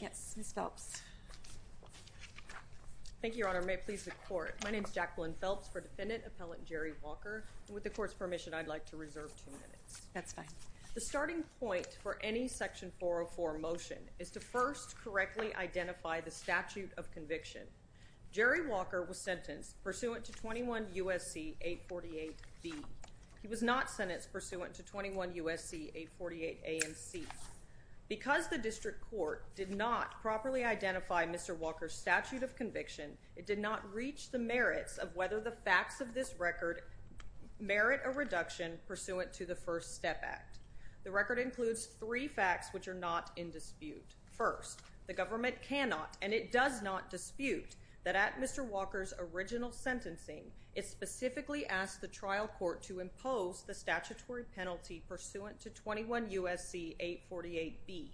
Yes, Ms. Phelps. Thank you, Your Honor. May it please the Court. My name is Jacqueline Phelps for Defendant Appellant Jerry Walker. With the Court's permission, I'd like to reserve That's fine. The starting point for any Section 404 motion is to first correctly identify the statute of conviction. Jerry Walker was sentenced pursuant to 21 U.S.C. 848B. He was not sentenced pursuant to 21 U.S.C. 848A and C. Because the District Court did not properly identify Mr. Walker's statute of conviction, it did not reach the merits of whether the facts of this record merit a reduction pursuant to the First Step Act. The record includes three facts which are not in dispute. First, the government cannot and it does not dispute that at Mr. Walker's original sentencing, it specifically asked the trial court to impose the statutory penalty pursuant to 21 U.S.C. 848B.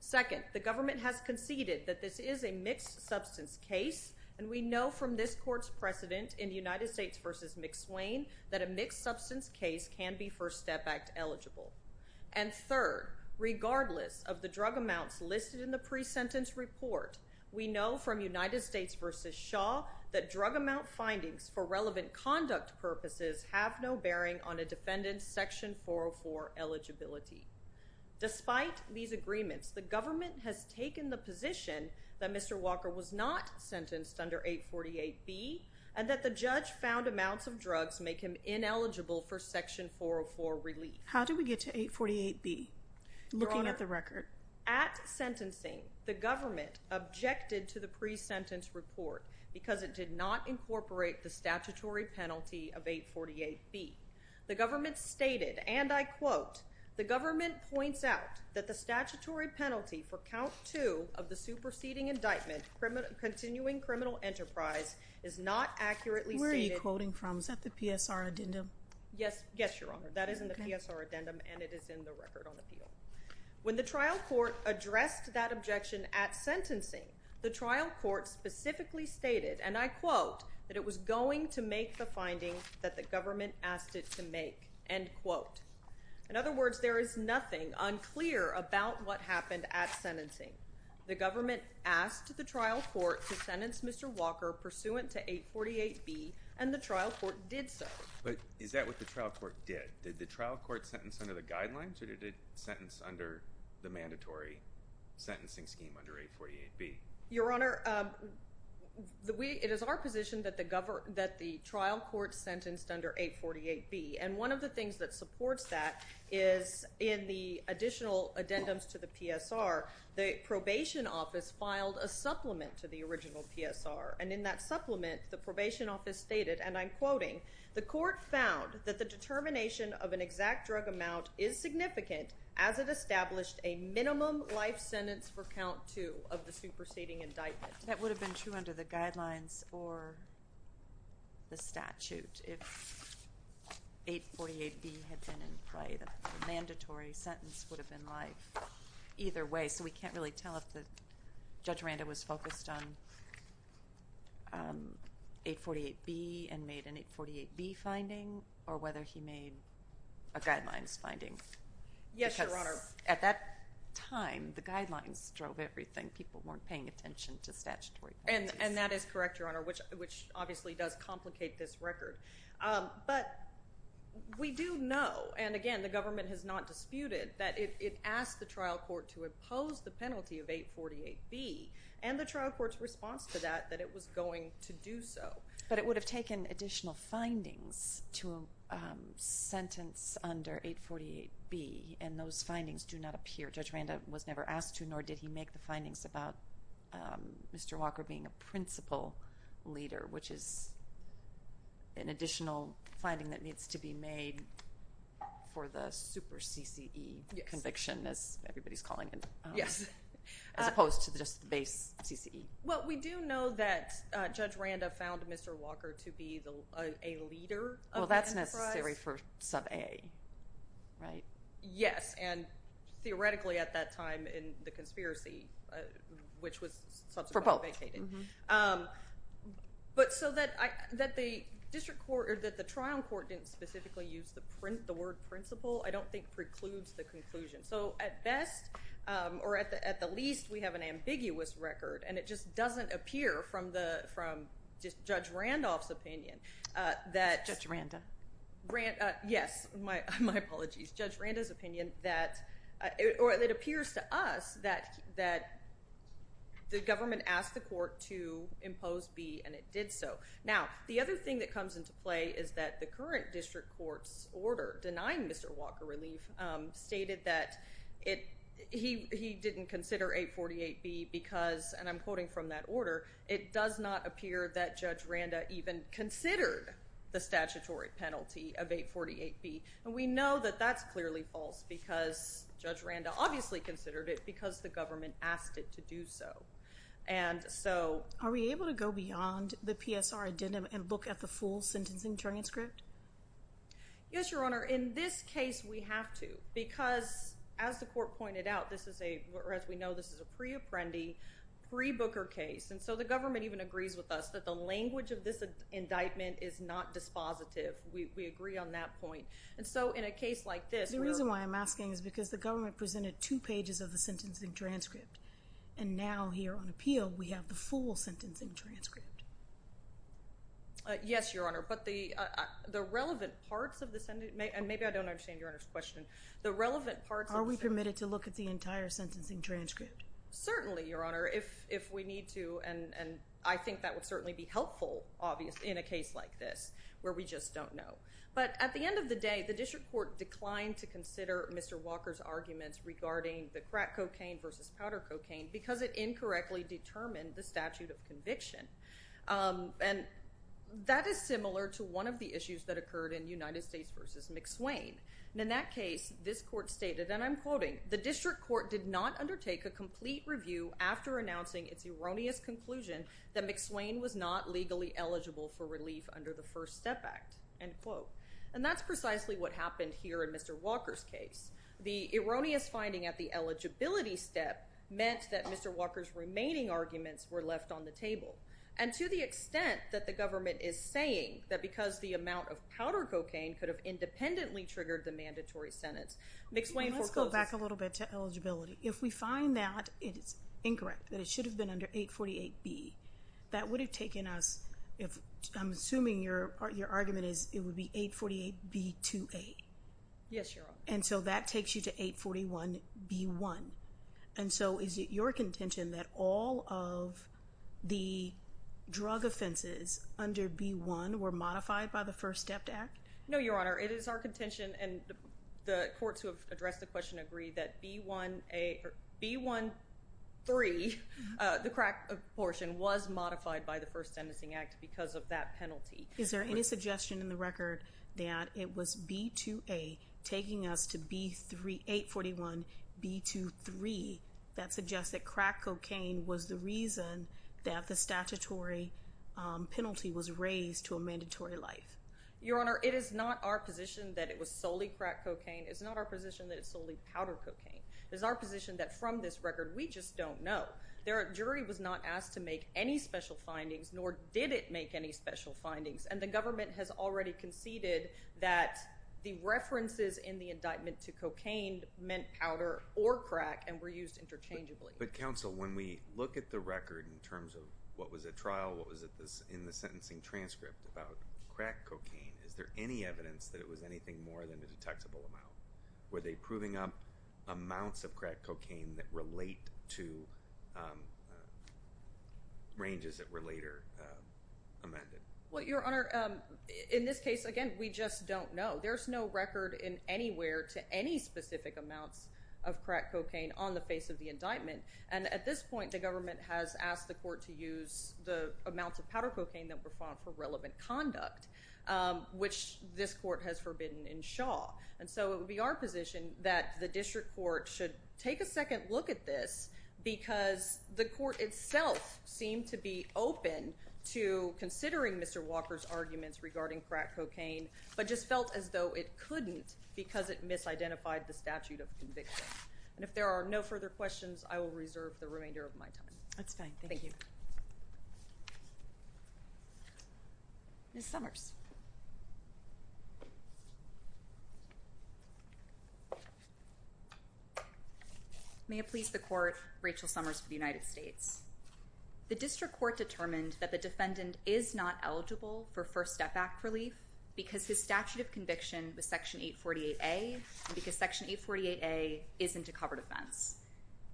Second, the government has conceded that this is a mixed substance case and we know from this Court's precedent in United States v. McSwain that a mixed substance case can be First Step Act eligible. And third, regardless of the drug amounts listed in the pre-sentence report, we know from United States v. Shaw that drug amount findings for relevant conduct purposes have no bearing on a defendant's Section 404 eligibility. Despite these agreements, the and that the judge found amounts of drugs make him ineligible for Section 404 relief. How did we get to 848B, looking at the record? At sentencing, the government objected to the pre-sentence report because it did not incorporate the statutory penalty of 848B. The government stated, and I quote, the government points out that the statutory penalty for count two of the superseding indictment continuing criminal enterprise is not accurately stated. Where are you quoting from? Is that the PSR addendum? Yes. Yes, Your Honor. That is in the PSR addendum and it is in the record on appeal. When the trial court addressed that objection at sentencing, the trial court specifically stated, and I quote, that it was going to make the finding that the government asked it to make, end quote. In other words, there is nothing unclear about what happened at sentencing. The government asked the trial court to sentence Mr. Walker pursuant to 848B and the trial court did so. But is that what the trial court did? Did the trial court sentence under the guidelines? Or did it sentence under the mandatory sentencing scheme under 848B? Your Honor, it is our position that the trial court sentenced under 848B. And one of the things that supports that is in the additional addendums to the PSR, the probation office filed a supplement to the original PSR. And in that supplement, the probation office stated, and I'm quoting, the court found that the determination of an exact drug amount is significant as it established a minimum life sentence for count two of the superseding indictment. That would have been true under the guidelines or the statute if 848B had been in play. The mandatory sentence would have been life either way. So we can't really tell if Judge Randa was focused on 848B and made an 848B finding or whether he made a guidelines finding. Yes, Your Honor. Because at that time, the guidelines drove everything. People weren't paying attention to statutory penalties. And that is correct, Your Honor, which obviously does complicate this record. But we do know, and again, the government has not disputed, that it asked the trial court to impose the penalty of 848B. And the trial court's response to that, that it was going to do so. But it would have taken additional findings to sentence under 848B. And those findings do not appear. Judge Randa was never asked to, nor did he make the findings about Mr. Walker being a principal leader, which is an additional finding that needs to be made for the super CCE conviction, as everybody's calling it, as opposed to just the base CCE. Well, we do know that Judge Randa found Mr. Walker to be a leader of the enterprise. Well, that's necessary for sub-AA, right? Yes. And theoretically, at that time, in the conspiracy, which was subsequently vacated. For both. But so that the trial court didn't specifically use the word principal, I don't think precludes the conclusion. So at best, or at the least, we have an ambiguous record. And it just doesn't appear from Judge Randolph's opinion that- Judge Randa. Yes. My apologies. Judge Randa's opinion that, or it appears to us that the government asked the court to impose B, and it did so. Now, the other thing that comes into play is that the current district court's order, denying Mr. Walker relief, stated that he didn't consider 848B because, and I'm quoting from that order, it does not appear that Judge Randa even considered the statutory penalty of 848B. And we know that that's clearly false because Judge Randa obviously considered it because the government asked it to do so. And so- Are we able to go beyond the PSR addendum and look at the full sentencing transcript? Yes, Your Honor. In this case, we have to. Because as the court pointed out, this is a, or as we know, this is a pre-apprendi, pre-Booker case. And so the government even agrees with us that the language of this indictment is not dispositive. We agree on that point. So in a case like this- The reason why I'm asking is because the government presented two pages of the sentencing transcript. And now here on appeal, we have the full sentencing transcript. Yes, Your Honor. But the relevant parts of the, and maybe I don't understand Your Honor's question. The relevant parts- Are we permitted to look at the entire sentencing transcript? Certainly, Your Honor, if we need to. And I think that would certainly be helpful, obviously, in a case like this, where we just don't know. But at the end of the day, the district court declined to consider Mr. Walker's arguments regarding the crack cocaine versus powder cocaine because it incorrectly determined the statute of conviction. And that is similar to one of the issues that occurred in United States versus McSwain. And in that case, this court stated, and I'm quoting, the district court did not undertake a complete review after announcing its erroneous conclusion that McSwain was not legally eligible for relief under the First Step Act. And that's precisely what happened here in Mr. Walker's case. The erroneous finding at the eligibility step meant that Mr. Walker's remaining arguments were left on the table. And to the extent that the government is saying that because the amount of powder cocaine could have independently triggered the mandatory sentence, McSwain foreclosed- Let's go back a little bit to eligibility. If we find that it is incorrect, that it should have been under 848B, that would have taken us, I'm assuming your argument is it would be 848B2A. Yes, Your Honor. And so that takes you to 841B1. And so is it your contention that all of the drug offenses under B1 were modified by the First Step Act? No, Your Honor. It is our contention, and the courts who have addressed the question agree, that B1A or B1-3, the crack portion, was modified by the First Sentencing Act because of that penalty. Is there any suggestion in the record that it was B2A taking us to 841B2-3 that suggests that crack cocaine was the reason that the statutory penalty was raised to a mandatory life? Your Honor, it is not our position that it was solely crack cocaine. It's not our position that it's solely powder cocaine. It's our position that from this record, we just don't know. The jury was not asked to make any special findings, nor did it make any special findings. And the government has already conceded that the references in the indictment to cocaine meant powder or crack and were used interchangeably. But counsel, when we look at the record in terms of what was at trial, what was in the sentencing transcript about crack cocaine, is there any evidence that it was anything more than a detectable amount? Were they proving up amounts of crack cocaine that relate to ranges that were later amended? Well, Your Honor, in this case, again, we just don't know. There's no record in anywhere to any specific amounts of crack cocaine on the face of the indictment. And at this point, the government has asked the court to use the amounts of powder cocaine that were found for relevant conduct. Which this court has forbidden in Shaw. And so it would be our position that the district court should take a second look at this because the court itself seemed to be open to considering Mr. Walker's arguments regarding crack cocaine but just felt as though it couldn't because it misidentified the statute of conviction. And if there are no further questions, I will reserve the remainder of my time. That's fine. Thank you. Ms. Summers. May it please the court, Rachel Summers for the United States. The district court determined that the defendant is not eligible for First Step Act relief because his statute of conviction was Section 848A and because Section 848A isn't a covered offense.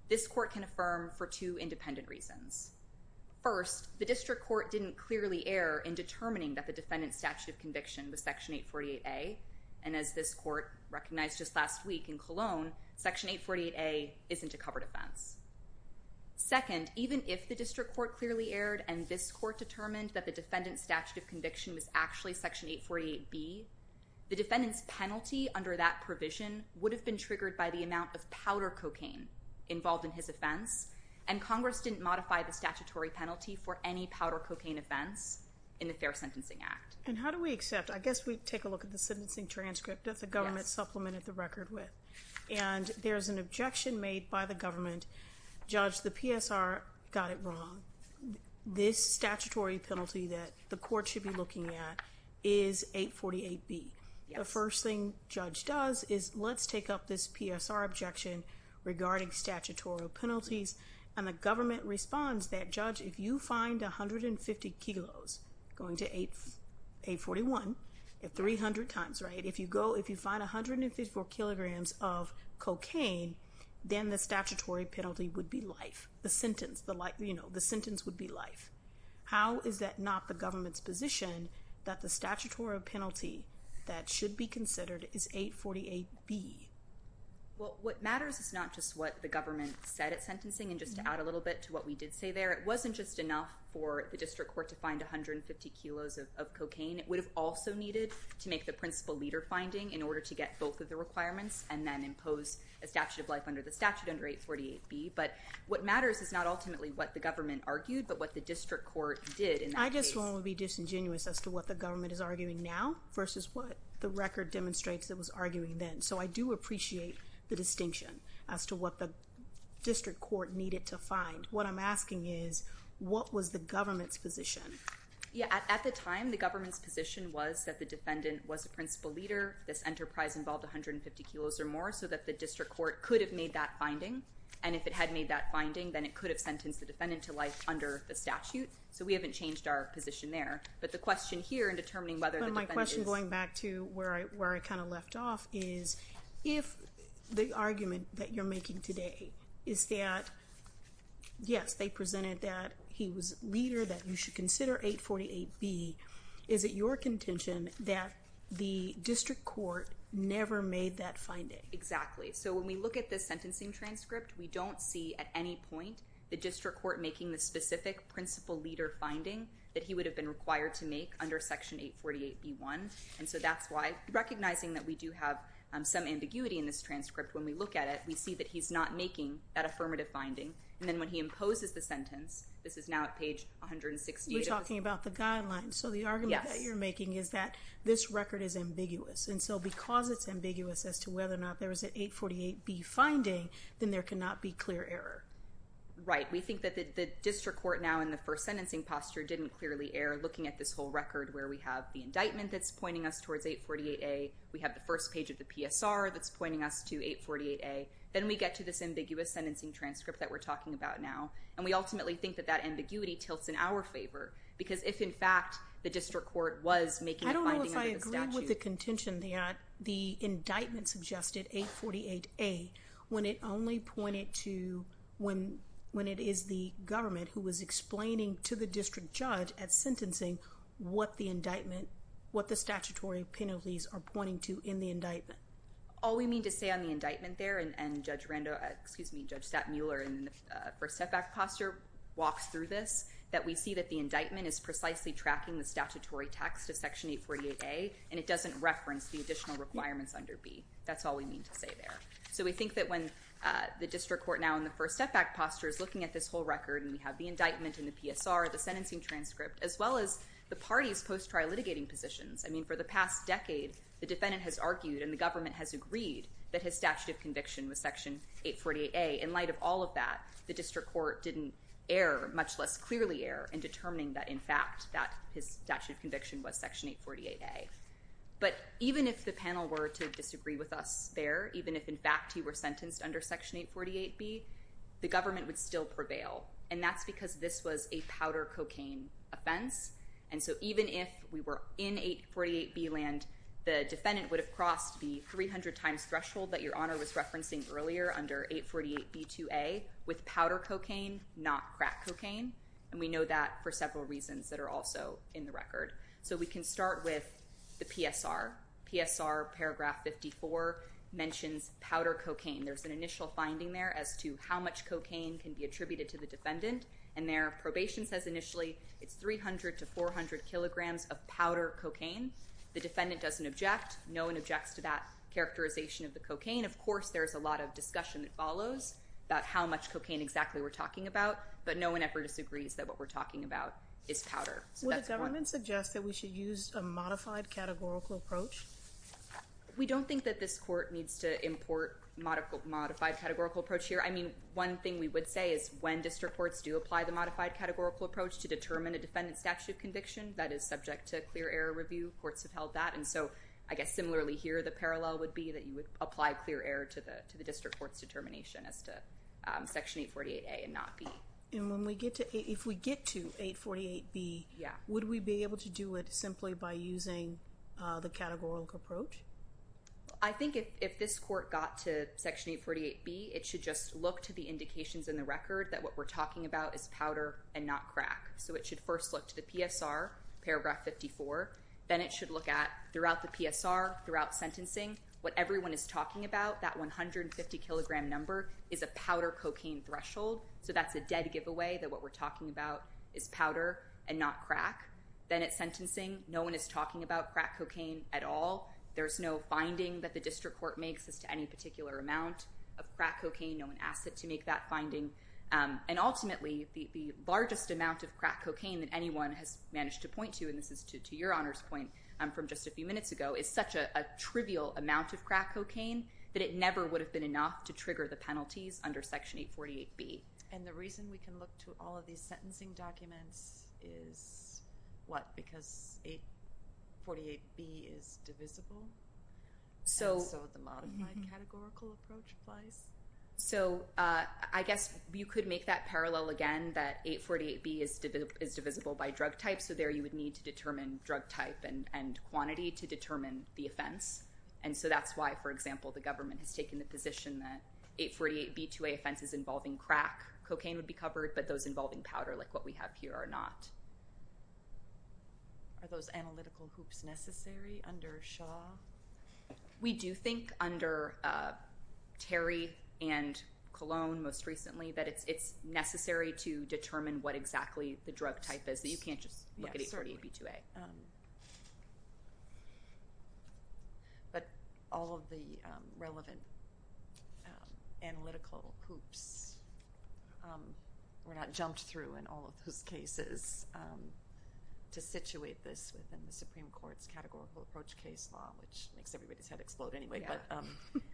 This court can affirm for two independent reasons. First, the district court didn't clearly err in determining that the defendant's statute of conviction was Section 848A. And as this court recognized just last week in Cologne, Section 848A isn't a covered offense. Second, even if the district court clearly erred and this court determined that the defendant's statute of conviction was actually Section 848B, the defendant's penalty under that provision would have been triggered by the amount of powder cocaine involved in his offense. And Congress didn't modify the statutory penalty for any powder cocaine offense in the Fair Sentencing Act. And how do we accept? I guess we'd take a look at the sentencing transcript that the government supplemented the record with. And there's an objection made by the government. Judge, the PSR got it wrong. This statutory penalty that the court should be looking at is 848B. The first thing judge does is let's take up this PSR objection regarding statutory penalties. And the government responds that, judge, if you find 150 kilos, going to 841, 300 times, right? If you go, if you find 154 kilograms of cocaine, then the statutory penalty would be life. The sentence, you know, the sentence would be life. How is that not the government's position that the statutory penalty that should be considered is 848B? Well, what matters is not just what the government said at sentencing. And just to add a little bit to what we did say there, it wasn't just enough for the district court to find 150 kilos of cocaine. It would have also needed to make the principal leader finding in order to get both of the requirements and then impose a statute of life under the statute under 848B. But what matters is not ultimately what the government argued, but what the district court did in that case. I just want to be disingenuous as to what the government is arguing now versus what the record demonstrates it was arguing then. So I do appreciate the distinction as to what the district court needed to find. What I'm asking is, what was the government's position? Yeah, at the time, the government's position was that the defendant was the principal leader. This enterprise involved 150 kilos or more so that the district court could have made that finding. And if it had made that finding, then it could have sentenced the defendant to life under the statute. So we haven't changed our position there. But the question here in determining whether the defendant is- If the argument that you're making today is that, yes, they presented that he was a leader that you should consider 848B, is it your contention that the district court never made that finding? Exactly. So when we look at this sentencing transcript, we don't see at any point the district court making the specific principal leader finding that he would have been required to make under Section 848B1. And so that's why, recognizing that we do have some ambiguity in this transcript, when we look at it, we see that he's not making that affirmative finding. And then when he imposes the sentence, this is now at page 168- We're talking about the guidelines. So the argument that you're making is that this record is ambiguous. And so because it's ambiguous as to whether or not there was an 848B finding, then there cannot be clear error. Right. We think that the district court now in the first sentencing posture didn't clearly err looking at this whole record where we have the indictment that's pointing us towards 848A. We have the first page of the PSR that's pointing us to 848A. Then we get to this ambiguous sentencing transcript that we're talking about now. And we ultimately think that that ambiguity tilts in our favor. Because if, in fact, the district court was making a finding under the statute- I don't know if I agree with the contention that the indictment suggested 848A when it only pointed to when it is the government who was explaining to the district judge at sentencing what the indictment- what the statutory penalties are pointing to in the indictment. All we mean to say on the indictment there, and Judge Rando- excuse me, Judge Stattmuller in the first setback posture walks through this, that we see that the indictment is precisely tracking the statutory text of Section 848A. And it doesn't reference the additional requirements under B. That's all we mean to say there. So we think that when the district court now in the first setback posture is looking at this whole record, and we have the indictment and the PSR, the sentencing transcript, as well as the parties' post-trial litigating positions. I mean, for the past decade, the defendant has argued and the government has agreed that his statute of conviction was Section 848A. In light of all of that, the district court didn't err, much less clearly err, in determining that, in fact, that his statute of conviction was Section 848A. But even if the panel were to disagree with us there, even if, in fact, he were sentenced under Section 848B, the government would still prevail. And that's because this was a powder cocaine offense. And so even if we were in 848B land, the defendant would have crossed the 300 times threshold that Your Honor was referencing earlier under 848B2A with powder cocaine, not crack cocaine. And we know that for several reasons that are also in the record. So we can start with the PSR. PSR paragraph 54 mentions powder cocaine. There's an initial finding there as to how much cocaine can be attributed to the defendant. And their probation says initially it's 300 to 400 kilograms of powder cocaine. The defendant doesn't object. No one objects to that characterization of the cocaine. Of course, there's a lot of discussion that follows about how much cocaine exactly we're talking about. But no one ever disagrees that what we're talking about is powder. Would the government suggest that we should use a modified categorical approach? We don't think that this court needs to import modified categorical approach here. I mean, one thing we would say is when district courts do apply the modified categorical approach to determine a defendant's statute of conviction, that is subject to clear error review. Courts have held that. And so I guess similarly here, the parallel would be that you would apply clear error to the district court's determination as to Section 848A and not B. And if we get to 848B, would we be able to do it simply by using the categorical approach? I think if this court got to Section 848B, it should just look to the indications in the record that what we're talking about is powder and not crack. So it should first look to the PSR, paragraph 54. Then it should look at throughout the PSR, throughout sentencing, what everyone is talking about, that 150 kilogram number, is a powder cocaine threshold. So that's a dead giveaway that what we're talking about is powder and not crack. Then at sentencing, no one is talking about crack cocaine at all. There's no finding that the district court makes as to any particular amount of crack cocaine. No one asked it to make that finding. And ultimately, the largest amount of crack cocaine that anyone has managed to point to, and this is to your Honor's point from just a few minutes ago, is such a trivial amount of crack cocaine that it never would have been enough to trigger the penalties under Section 848B. And the reason we can look to all of these sentencing documents is what? Because 848B is divisible? And so the modified categorical approach applies? So I guess you could make that parallel again, that 848B is divisible by drug type. So there you would need to determine drug type and quantity to determine the offense. And so that's why, for example, the government has taken the position that 848B2A offenses involving crack cocaine would be covered, but those involving powder, like what we have here, are not. Are those analytical hoops necessary under Shaw? We do think under Terry and Colon most recently that it's necessary to determine what exactly the drug type is. You can't just look at 848B2A. But all of the relevant analytical hoops were not jumped through in all of those cases to situate this within the Supreme Court's categorical approach case law, which makes everybody's head explode anyway. But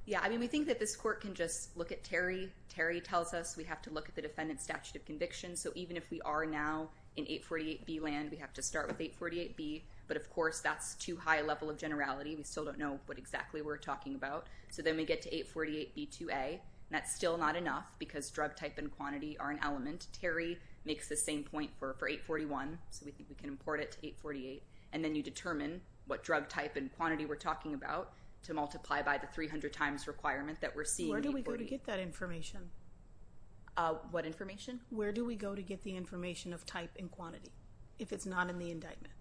yeah, I mean, we think that this court can just look at Terry. Terry tells us we have to look at the defendant's statute of conviction. So even if we are now in 848B land, we have to start with 848B. But of course, that's too high a level of generality. We still don't know what exactly we're talking about. So then we get to 848B2A, and that's still not enough because drug type and quantity are an element. Terry makes the same point for 841, so we think we can import it to 848. And then you determine what drug type and quantity we're talking about to multiply by the 300 times requirement that we're seeing in 848. Where do we go to get that information? What information? Where do we go to get the information of type and quantity if it's not in the indictment?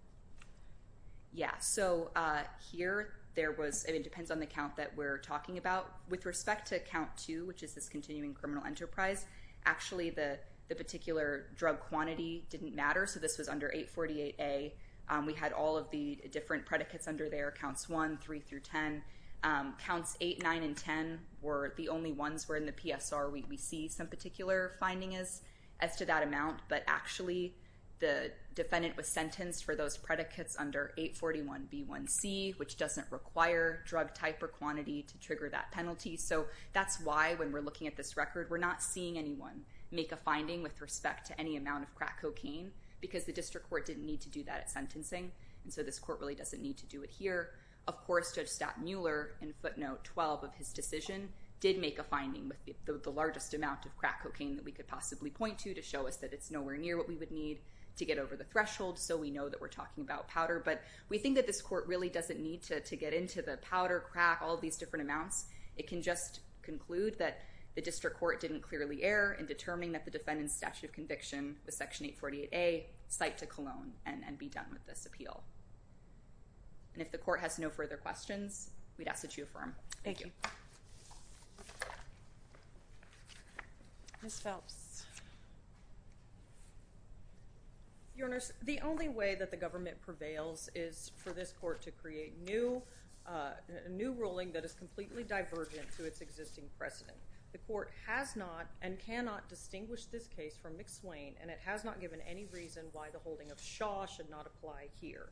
Yeah. So here, it depends on the count that we're talking about. With respect to count 2, which is this continuing criminal enterprise, actually the particular drug quantity didn't matter. So this was under 848A. We had all of the different predicates under there, counts 1, 3, through 10. Counts 8, 9, and 10 were the only ones where in the PSR we see some particular finding as to that amount. But actually, the defendant was sentenced for those predicates under 841B1C, which doesn't require drug type or quantity to trigger that penalty. So that's why, when we're looking at this record, we're not seeing anyone make a finding with respect to any amount of crack cocaine because the district court didn't need to do that at sentencing. And so this court really doesn't need to do it here. Of course, Judge Staten Mueller, in footnote 12 of his decision, did make a finding with the largest amount of crack cocaine that we could possibly point to to show us that it's nowhere near what we would need to get over the threshold. So we know that we're talking about powder. But we think that this court really doesn't need to get into the powder, crack, all these different amounts. It can just conclude that the district court didn't clearly err in determining that the defendant's statute of conviction with Section 848A cite to Cologne and be done with this appeal. And if the court has no further questions, we'd ask that you affirm. Thank you. Ms. Phelps. Your Honor, the only way that the government prevails is for this court to create a new ruling that is completely divergent to its existing precedent. The court has not and cannot distinguish this case from McSwain, and it has not given any reason why the holding of Shaw should not apply here.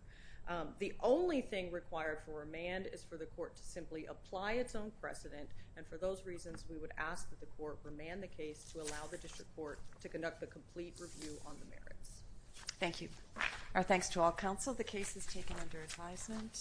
The only thing required for remand is for the court to simply apply its own precedent. And for those reasons, we would ask that the court remand the case to allow the district court to conduct a complete review on the merits. Thank you. Our thanks to all counsel. The case is taken under advisement.